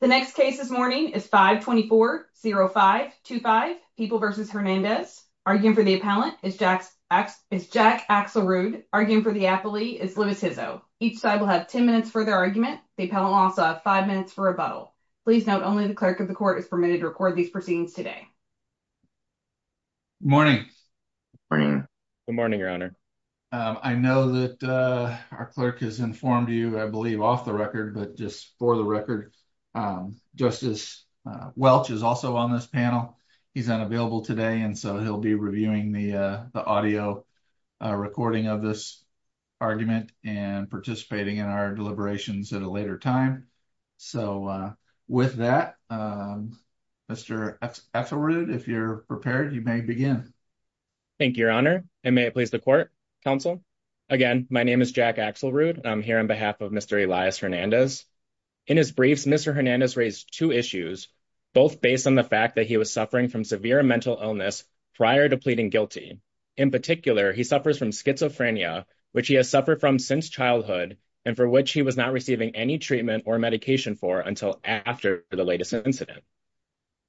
The next case this morning is 524-0525, People v. Hernandez. Arguing for the appellant is Jack Axelrude. Arguing for the appellee is Louis Hizzo. Each side will have 10 minutes for their argument. The appellant will also have 5 minutes for rebuttal. Please note, only the clerk of the court is permitted to record these proceedings today. Good morning. Good morning, your honor. I know that our clerk has informed you, I believe, off the record, but just for the record, Justice Welch is also on this panel. He's unavailable today, and so he'll be reviewing the audio recording of this argument and participating in our deliberations at a later time. So with that, Mr. Axelrude, if you're prepared, you may begin. Jack Axelrude Thank you, your honor. And may it please the court, counsel. Again, my name is Jack Axelrude, and I'm here on behalf of Mr. Elias Hernandez. In his briefs, Mr. Hernandez raised two issues, both based on the fact that he was suffering from severe mental illness prior to pleading guilty. In particular, he suffers from schizophrenia, which he has suffered from since childhood, and for which he was not receiving any treatment or medication for until after the latest incident.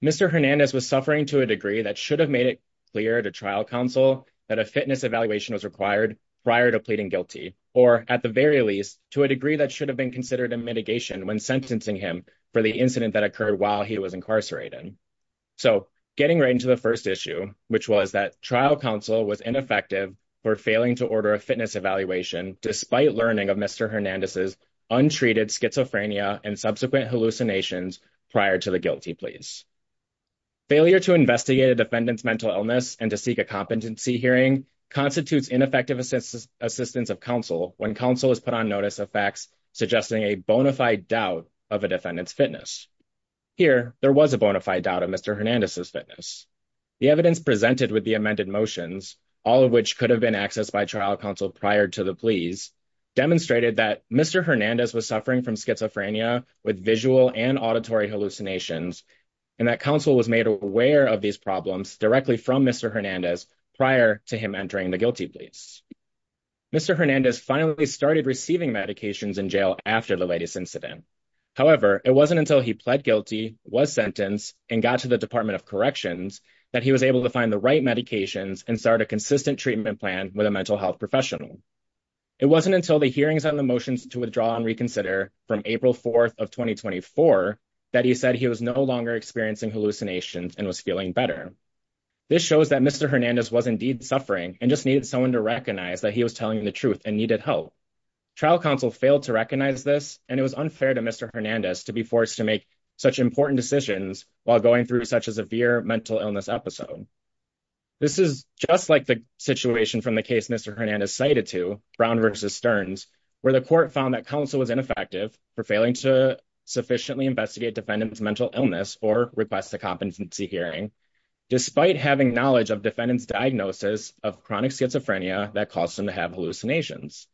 Mr. Hernandez was suffering to a degree that should have made it clear to trial counsel that a fitness evaluation was required prior to pleading when sentencing him for the incident that occurred while he was incarcerated. So getting right into the first issue, which was that trial counsel was ineffective for failing to order a fitness evaluation despite learning of Mr. Hernandez's untreated schizophrenia and subsequent hallucinations prior to the guilty pleas. Failure to investigate a defendant's mental illness and to seek a competency hearing constitutes ineffective assistance of counsel when counsel is put on notice of facts suggesting a bona fide doubt of a defendant's fitness. Here, there was a bona fide doubt of Mr. Hernandez's fitness. The evidence presented with the amended motions, all of which could have been accessed by trial counsel prior to the pleas, demonstrated that Mr. Hernandez was suffering from schizophrenia with visual and auditory hallucinations, and that counsel was made aware of these problems directly from Mr. Hernandez prior to him entering the guilty pleas. Mr. Hernandez finally started receiving medications in jail after the latest incident. However, it wasn't until he pled guilty, was sentenced, and got to the Department of Corrections that he was able to find the right medications and start a consistent treatment plan with a mental health professional. It wasn't until the hearings on the motions to withdraw and reconsider from April 4th of 2024 that he said he was no longer and just needed someone to recognize that he was telling the truth and needed help. Trial counsel failed to recognize this, and it was unfair to Mr. Hernandez to be forced to make such important decisions while going through such a severe mental illness episode. This is just like the situation from the case Mr. Hernandez cited to, Brown v. Stearns, where the court found that counsel was ineffective for failing to sufficiently investigate defendant's mental illness or request a competency hearing, despite having knowledge of defendant's diagnosis of chronic schizophrenia that caused him to have hallucinations.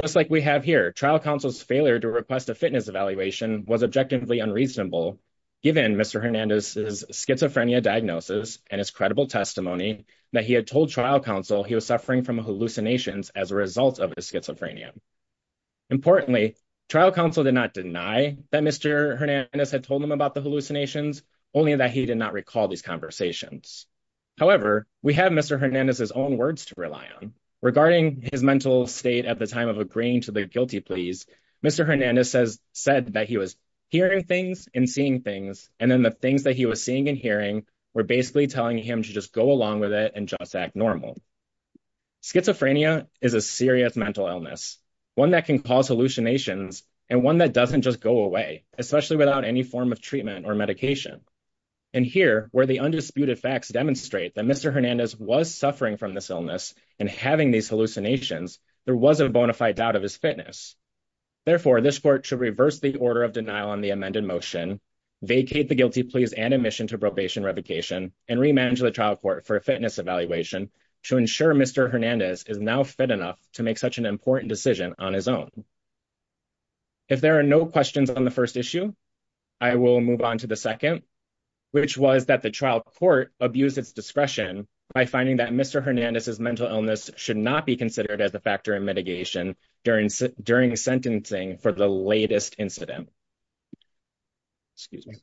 Just like we have here, trial counsel's failure to request a fitness evaluation was objectively unreasonable, given Mr. Hernandez's schizophrenia diagnosis and his credible testimony that he had told trial counsel he was suffering from hallucinations as a result of his schizophrenia. Importantly, trial counsel did not deny that Mr. Hernandez had told them about the hallucinations, only that he did not recall these conversations. However, we have Mr. Hernandez's own words to rely on. Regarding his mental state at the time of agreeing to the guilty pleas, Mr. Hernandez said that he was hearing things and seeing things, and then the things that he was seeing and hearing were basically telling him to just go along with it and just act normal. Schizophrenia is a serious and one that doesn't just go away, especially without any form of treatment or medication. And here, where the undisputed facts demonstrate that Mr. Hernandez was suffering from this illness and having these hallucinations, there was a bona fide doubt of his fitness. Therefore, this court should reverse the order of denial on the amended motion, vacate the guilty pleas and admission to probation revocation, and remanage the trial court for a fitness evaluation to ensure Mr. Hernandez is now fit enough to make such an important decision on his own. If there are no questions on the first issue, I will move on to the second, which was that the trial court abused its discretion by finding that Mr. Hernandez's mental illness should not be considered as a factor in mitigation during sentencing for the latest incident. Excuse me.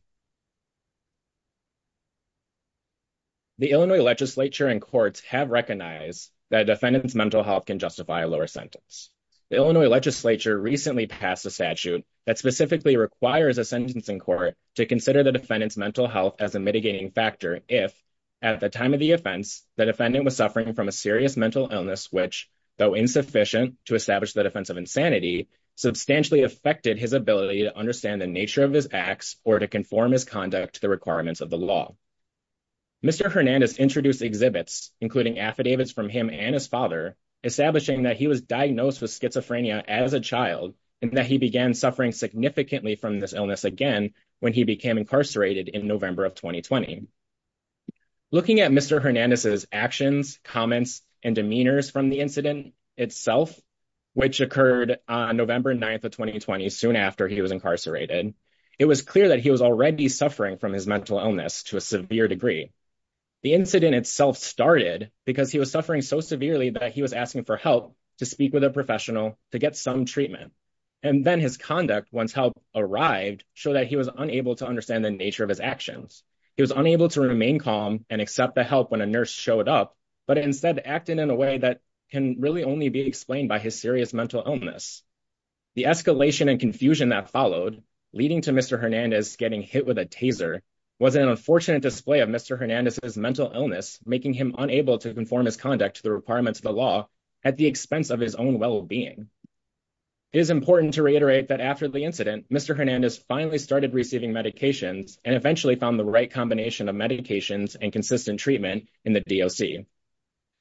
The Illinois legislature and courts have recognized that a defendant's mental health lower sentence. The Illinois legislature recently passed a statute that specifically requires a sentencing court to consider the defendant's mental health as a mitigating factor if, at the time of the offense, the defendant was suffering from a serious mental illness which, though insufficient to establish the defense of insanity, substantially affected his ability to understand the nature of his acts or to conform his conduct to the requirements of the law. Mr. Hernandez introduced exhibits, including affidavits from him and his father, establishing that he was diagnosed with schizophrenia as a child and that he began suffering significantly from this illness again when he became incarcerated in November of 2020. Looking at Mr. Hernandez's actions, comments, and demeanors from the incident itself, which occurred on November 9th of 2020, soon after he was incarcerated, it was clear that he was already suffering from his mental illness to a severe degree. The incident itself started because he was suffering so severely that he was asking for help to speak with a professional to get some treatment, and then his conduct, once help arrived, showed that he was unable to understand the nature of his actions. He was unable to remain calm and accept the help when a nurse showed up, but instead acted in a way that can really only be explained by his serious mental illness. The escalation and confusion that followed, leading to Mr. Hernandez getting hit with a taser, was an unfortunate display of Mr. Hernandez's mental illness, making him unable to conform his conduct to the requirements of the law at the expense of his own well-being. It is important to reiterate that after the incident, Mr. Hernandez finally started receiving medications and eventually found the right combination of medications and consistent treatment in the DOC.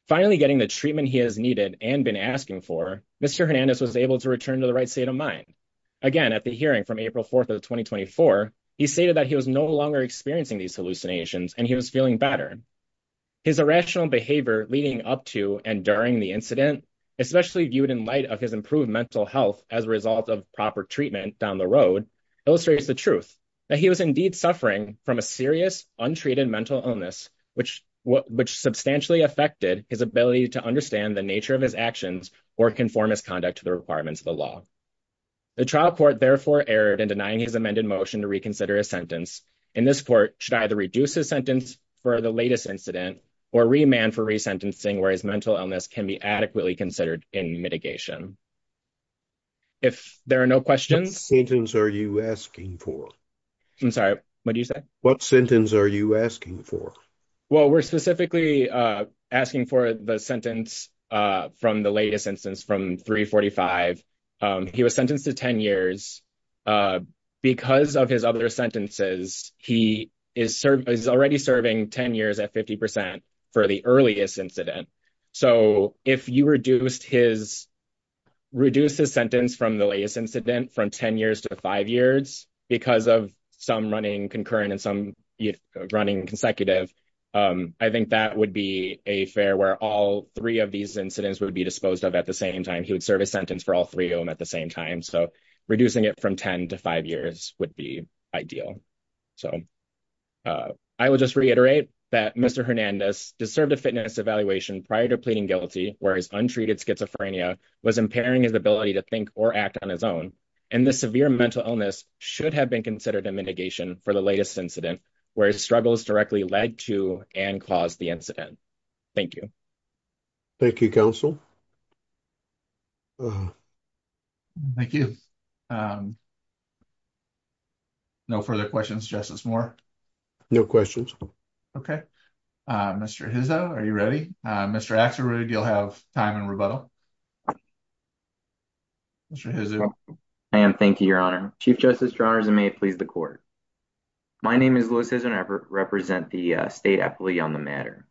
Finally getting the treatment he has needed and been asking for, Mr. Hernandez was able to return to the right state of mind. Again, at the hearing from April 4th of 2024, he stated that he was no longer experiencing these hallucinations and he was feeling better. His irrational behavior leading up to and during the incident, especially viewed in light of his improved mental health as a result of proper treatment down the road, illustrates the truth, that he was indeed suffering from a serious, untreated mental illness, which substantially affected his ability to understand the nature of his actions or conform his conduct to the requirements of the law. The trial court therefore erred in denying his amended motion to reconsider his sentence, and this court should either reduce his sentence for the latest incident or remand for resentencing where his mental illness can be adequately considered in mitigation. If there are no questions... What sentence are you asking for? I'm sorry, what did you say? What sentence are you asking for? Well, we're specifically asking for the sentence from the latest instance from 345. He was sentenced to 10 years. Because of his other sentences, he is already serving 10 years at 50% for the earliest incident. So if you reduced his sentence from the latest incident from 10 years to five years because of some running concurrent and some running consecutive, I think that would be a fair where all three of these incidents would be disposed of at the same time. He would serve a sentence for all three of them at the same time. So reducing it from 10 to five years would be ideal. So I will just reiterate that Mr. Hernandez deserved a fitness evaluation prior to pleading guilty where his untreated schizophrenia was impairing his ability to think or act on his own, and the severe mental illness should have been a mitigation for the latest incident where his struggles directly led to and caused the incident. Thank you. Thank you, counsel. Thank you. No further questions, Justice Moore? No questions. Okay. Mr. Hizzo, are you ready? Mr. Axelrod, you'll have time in rebuttal. Mr. Hizzo? I am. Thank you, Your Honor. Chief Justice and may it please the court. My name is Louis Hizzo and I represent the state appellee on the matter.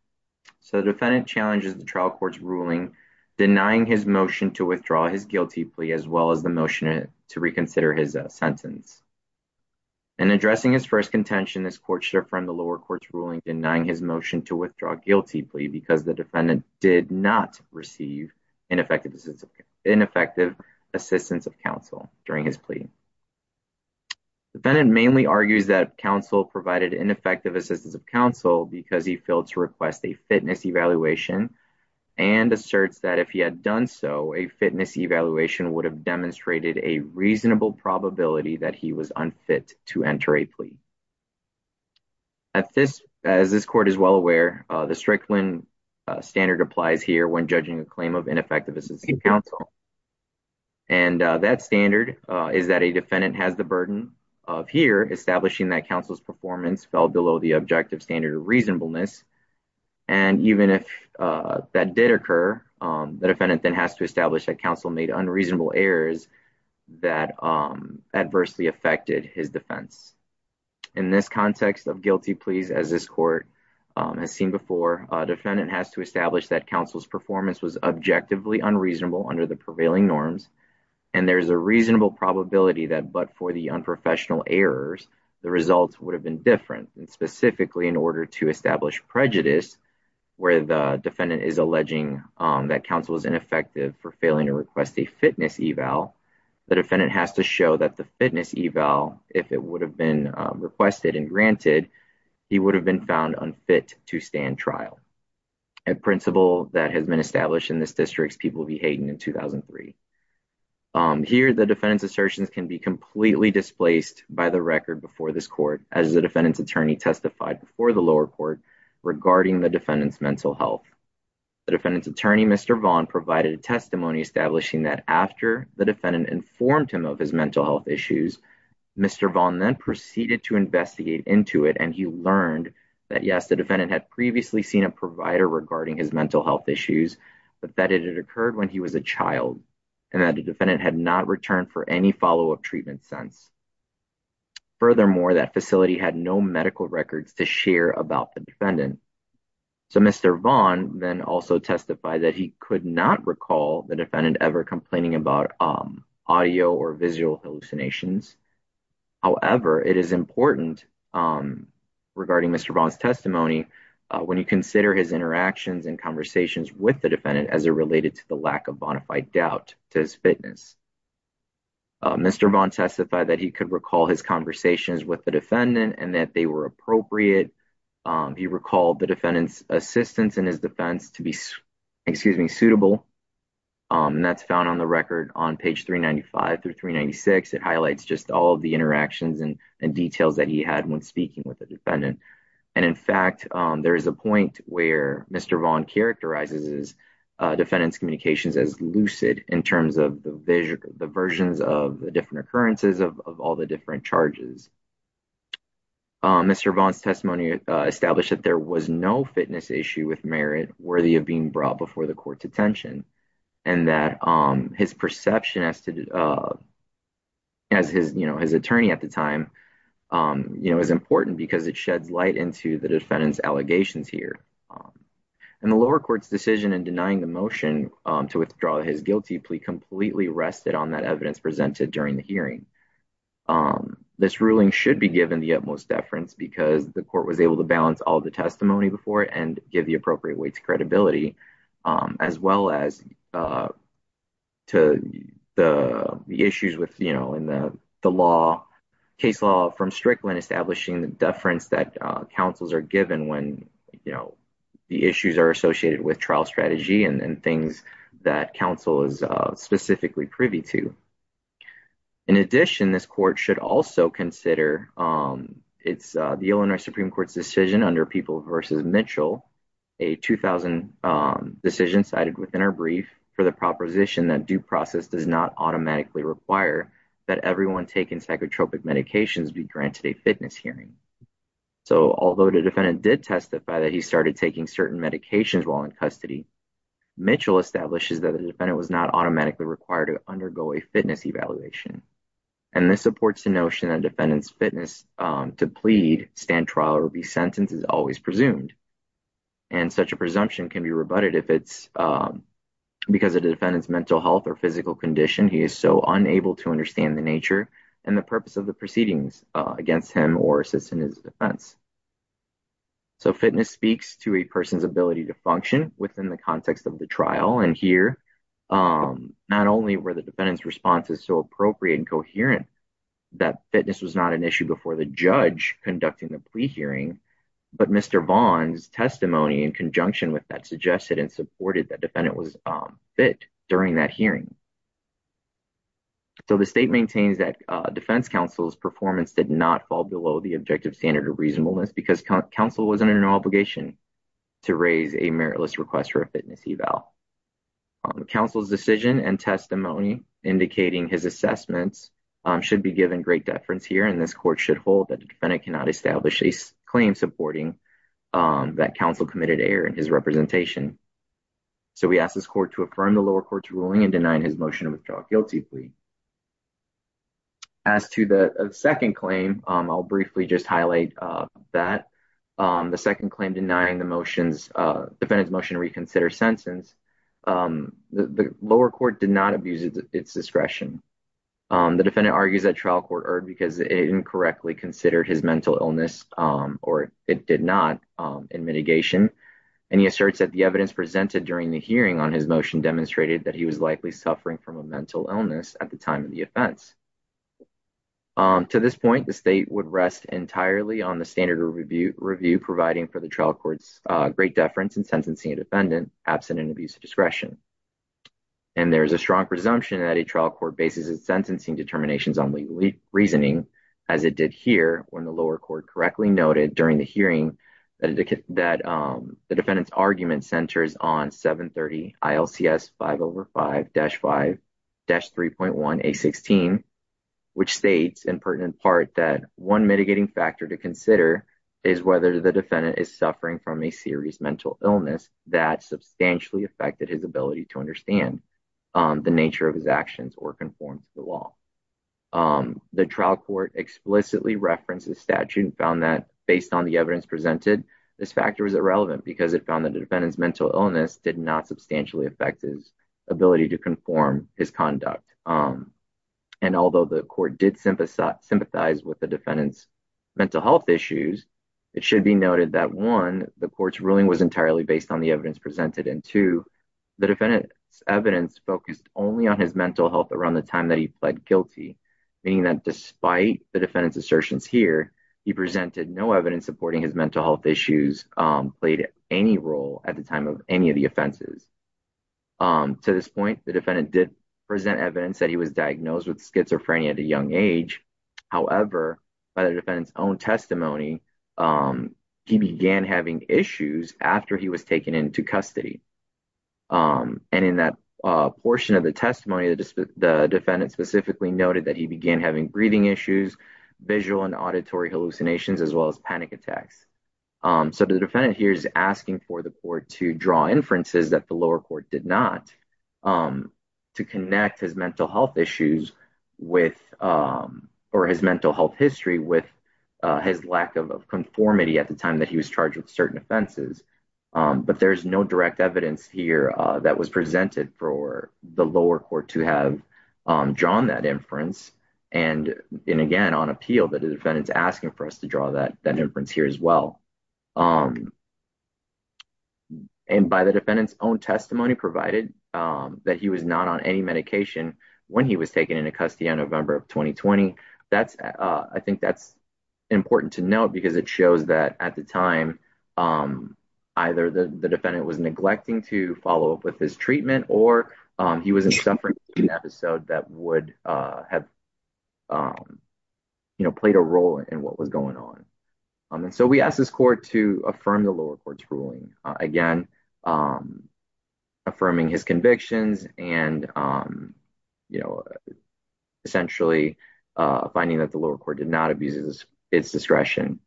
So the defendant challenges the trial court's ruling denying his motion to withdraw his guilty plea as well as the motion to reconsider his sentence. In addressing his first contention, this court should affirm the lower court's ruling denying his motion to withdraw a guilty plea because the defendant did not receive ineffective assistance of counsel during his plea. The defendant mainly argues that counsel provided ineffective assistance of counsel because he failed to request a fitness evaluation and asserts that if he had done so, a fitness evaluation would have demonstrated a reasonable probability that he was unfit to enter a plea. As this court is well aware, the Strickland standard applies here when judging a claim of ineffective assistance of counsel. And that standard is that a defendant has the burden of here establishing that counsel's performance fell below the objective standard of reasonableness. And even if that did occur, the defendant then has to establish that counsel made unreasonable errors that adversely affected his defense. In this context of guilty pleas, as this court has seen before, a defendant has to establish that counsel's performance was objectively unreasonable under the prevailing norms and there's a reasonable probability that but for the unprofessional errors, the results would have been different. And specifically in order to establish prejudice where the defendant is alleging that counsel is ineffective for failing to request a fitness eval, the defendant has to show that the fitness eval, if it would have been requested and granted, he would have been found unfit to stand trial. A principle that has been established in this district's People v. Hayden in 2003. Here the defendant's assertions can be completely displaced by the record before this court as the defendant's attorney testified before the lower court regarding the defendant's mental health. The defendant's attorney, Mr. Vaughn, provided a testimony establishing that after the defendant informed him of his mental health issues, Mr. Vaughn then proceeded to investigate into it and he learned that yes, the defendant had previously seen a provider regarding his mental health issues, but that it occurred when he was a child and that the defendant had not returned for any follow-up treatment since. Furthermore, that facility had no medical records to share about the defendant. So Mr. Vaughn then also testified that he could not recall the defendant ever complaining about audio or visual hallucinations. However, it is important regarding Mr. Vaughn's testimony when you consider his interactions and conversations with the defendant as it related to the lack of bona fide doubt to his fitness. Mr. Vaughn testified that he could recall his conversations with the defendant and that they were appropriate. He recalled the defendant's assistance in his defense to be suitable and that's found on the record on page 395 through 396. It highlights just all of the interactions and details that he had when speaking with the defendant. And in fact, there is a point where Mr. Vaughn characterizes his defendant's communications as lucid in terms of the versions of the different occurrences of all the different charges. Mr. Vaughn's testimony established that there was no fitness issue with Merritt worthy of being brought before the court's attention and that his perception as his attorney at the time is important because it sheds light into the defendant's allegations here. And the lower court's decision in denying the motion to withdraw his guilty plea completely rested on that evidence presented during the hearing. This ruling should be given the utmost deference because the court was able to balance all the testimony before and give the appropriate credibility as well as to the issues with, you know, in the case law from Strickland establishing the deference that counsels are given when, you know, the issues are associated with trial strategy and things that counsel is specifically privy to. In addition, this court should also consider the Illinois Supreme Court's decision under People v. Mitchell, a 2000 decision cited within our brief for the proposition that due process does not automatically require that everyone taking psychotropic medications be granted a fitness hearing. So although the defendant did testify that he started taking certain medications while in custody, Mitchell establishes that the defendant was not automatically required to undergo a fitness evaluation. And this supports the notion that defendant's fitness to plead, stand trial, or be sentenced is always presumed. And such a presumption can be rebutted if it's because of the defendant's mental health or physical condition, he is so unable to understand the nature and the purpose of the proceedings against him or assist in his defense. So fitness speaks to a person's ability to function within the context of the trial. And here, not only were the defendant's responses so appropriate and coherent, that fitness was not an issue before the judge conducting the plea hearing, but Mr. Vaughn's testimony in conjunction with that suggested and supported that defendant was fit during that hearing. So the state maintains that defense counsel's performance did not fall below the objective standard of reasonableness because counsel was under an obligation to raise a meritless request for a fitness eval. Counsel's decision and testimony indicating his assessments should be given great deference here, and this court should hold that the defendant cannot establish a claim supporting that counsel committed error in his representation. So we ask this court to affirm the lower court's ruling in denying his motion to withdraw guiltily. As to the second claim, I'll briefly just highlight that. The second claim denying the motion's, defendant's motion to reconsider sentence, the lower court did not abuse its discretion. The defendant argues that trial court erred because it incorrectly considered his mental illness, or it did not, in mitigation. And he asserts that the evidence presented during the hearing on his motion demonstrated that he was likely suffering from a mental illness at the time of the offense. To this point, the state would rest entirely on the standard review providing for the trial court's great deference in sentencing a defendant absent an abuse of discretion. And there is a strong presumption that a trial court bases its sentencing determinations on reasoning, as it did here when the lower court correctly noted during the hearing that the defendant's argument centers on 730 ILCS 505-5-3.1A16, which states in pertinent part that one mitigating factor to consider is whether the defendant is suffering from a serious mental illness that substantially affected his ability to understand the nature of his actions or conform to the law. The trial court explicitly referenced the statute and found that based on the evidence presented, this factor is irrelevant because it found that the defendant's mental illness did not substantially affect his ability to conform his conduct. And although the court did sympathize with the defendant's mental health issues, it should be noted that one, the court's ruling was entirely based on the evidence presented, and two, the defendant's evidence focused only on his mental health around the time that he pled guilty, meaning that despite the defendant's assertions here, he presented no evidence supporting his mental health issues played any role at the time of any of the offenses. To this point, the defendant did present evidence that he was diagnosed with schizophrenia at a young age. However, by the defendant's own testimony, he began having issues after he was taken into custody. And in that portion of the testimony, the defendant specifically noted that he began having breathing issues, visual and auditory hallucinations, as well as panic attacks. So the defendant here is asking for the court to draw inferences that the lower court did not to connect his mental health issues with or his mental health history with his lack of conformity at the time that he was charged with certain offenses. But there's no direct evidence here that was presented for the lower court to have drawn that inference. And again, on appeal, the defendant is asking for us to draw that inference here as well. And by the defendant's own testimony provided, that he was not on any medication when he was taken into custody on November of 2020. That's, I think that's important to note, because it shows that at the time, either the defendant was neglecting to follow up with his treatment, or he was in suffering episode that would have, you know, played a role in what was going on. And so we asked this court to affirm the lower court's ruling, again, affirming his convictions, and, you know, essentially, finding that the lower court did not abuses its discretion.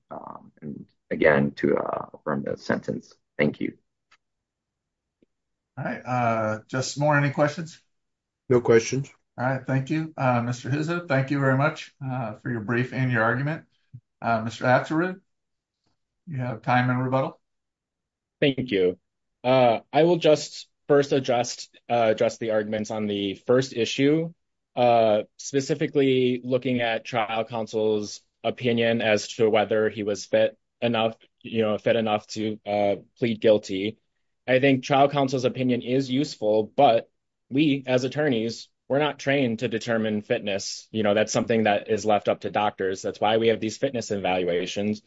And again, to from that sentence. Thank you. All right. Just more any questions? No questions. All right. Thank you, Mr. Thank you very much for your brief and your argument. Mr. You have time and rebuttal. Thank you. I will just first address address the arguments on the first issue. Specifically looking at trial counsel's opinion as to whether he was fit enough, you know, fed enough to plead guilty. I think trial counsel's opinion is useful. But we as attorneys, we're not trained to determine fitness, you know, that's something that is left up to doctors. That's why we have these fitness evaluations.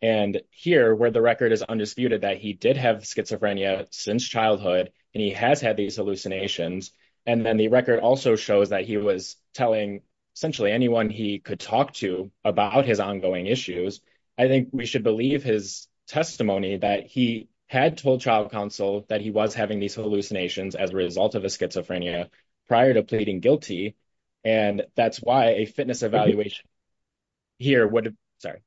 And here where the record is undisputed that he did have schizophrenia since childhood, and he has had these hallucinations. And then the record also shows that he was telling essentially anyone he could talk to about his ongoing issues. I think we should believe his testimony that he had told trial counsel that he was having these hallucinations as a result of his schizophrenia prior to pleading guilty. And that's why a fitness evaluation here would. Sorry.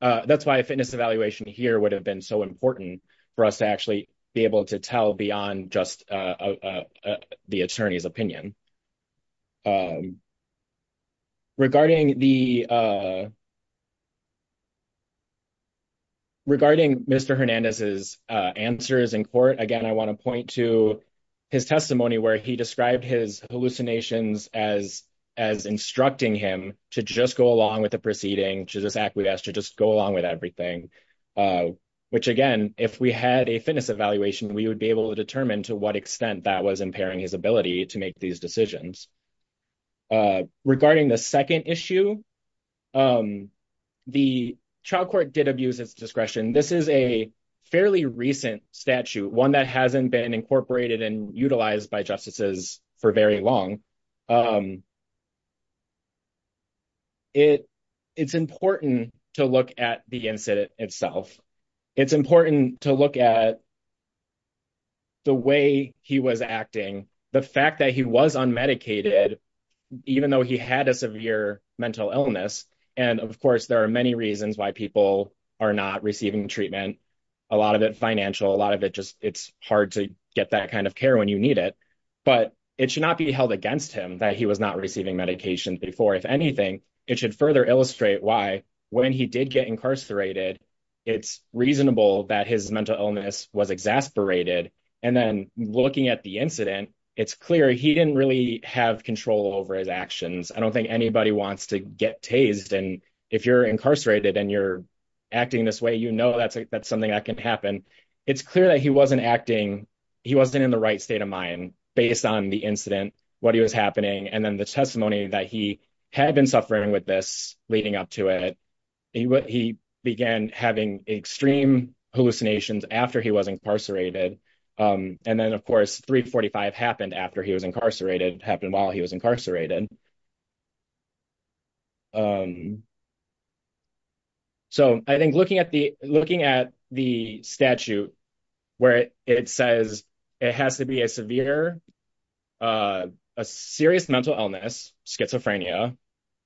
That's why a fitness evaluation here would have been so important for us to actually be able to tell beyond just the attorney's opinion. Regarding the Regarding Mr. Hernandez's answers in court, again, I want to point to his testimony where he described his hallucinations as, as instructing him to just go along with the proceeding to this act, we've asked to just go along with everything. Which again, if we had a fitness evaluation, we would be able to determine to what extent that was impairing his ability to make these decisions. Regarding the second issue, the child court did abuse its discretion. This is a fairly recent statute, one that hasn't been incorporated and utilized by justices for very long. It's important to look at the incident itself. It's important to look at the way he was acting, the fact that he was unmedicated, even though he had a severe mental illness. And of course, there are many reasons why people are not receiving treatment. A lot of it financial, a lot of it just, it's hard to get that kind of care when you need it. But it should not be held against him that he was not receiving medication before. If anything, it should further illustrate why when he did get incarcerated, it's reasonable that his mental illness was exasperated. And then looking at the incident, it's clear he didn't really have control over his actions. I don't think anybody wants to get tased. And if you're incarcerated and you're acting this way, you know that's something that can happen. It's clear that he wasn't acting, he wasn't in the right state of mind based on the incident, what he was happening. And then the testimony that he had been suffering with this leading up to it, he began having extreme hallucinations after he was incarcerated. And then of course, 345 happened after he was incarcerated, happened while he was incarcerated. So I think looking at the statute where it says it has to be a severe, a serious mental illness, schizophrenia,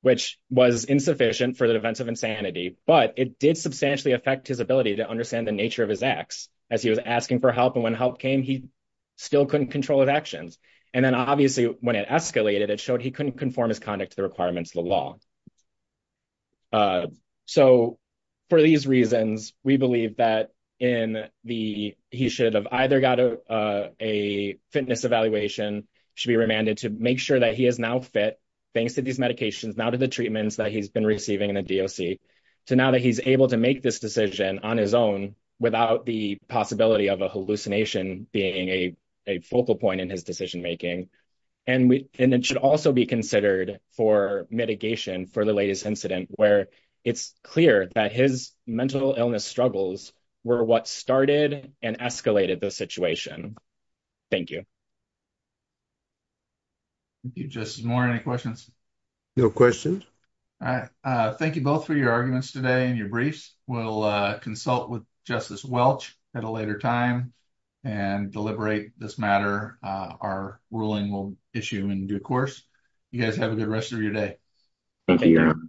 which was insufficient for the events of insanity, but it did substantially affect his ability to understand the nature of his acts as he was asking for help. And when help came, he still couldn't control his actions. And then obviously when it escalated, it showed he couldn't conform his conduct to the requirements of the law. So for these reasons, we believe that he should have either got a fitness evaluation, should be remanded to make sure that he is now fit, thanks to these medications, now to the treatments that he's been receiving in a DOC, to now that he's able to make this decision on his own without the possibility of a hallucination being a focal point in his decision making. And it should also be considered for mitigation for the latest incident where it's clear that his mental illness struggles were what started and escalated the situation. Thank you. Thank you, Justice Moore. Any questions? No questions. All right. Thank you both for your arguments today and your briefs. We'll consult with Justice Welch at a later time and deliberate this matter. Our ruling will issue in due course. You guys have a good rest of your day. Thank you.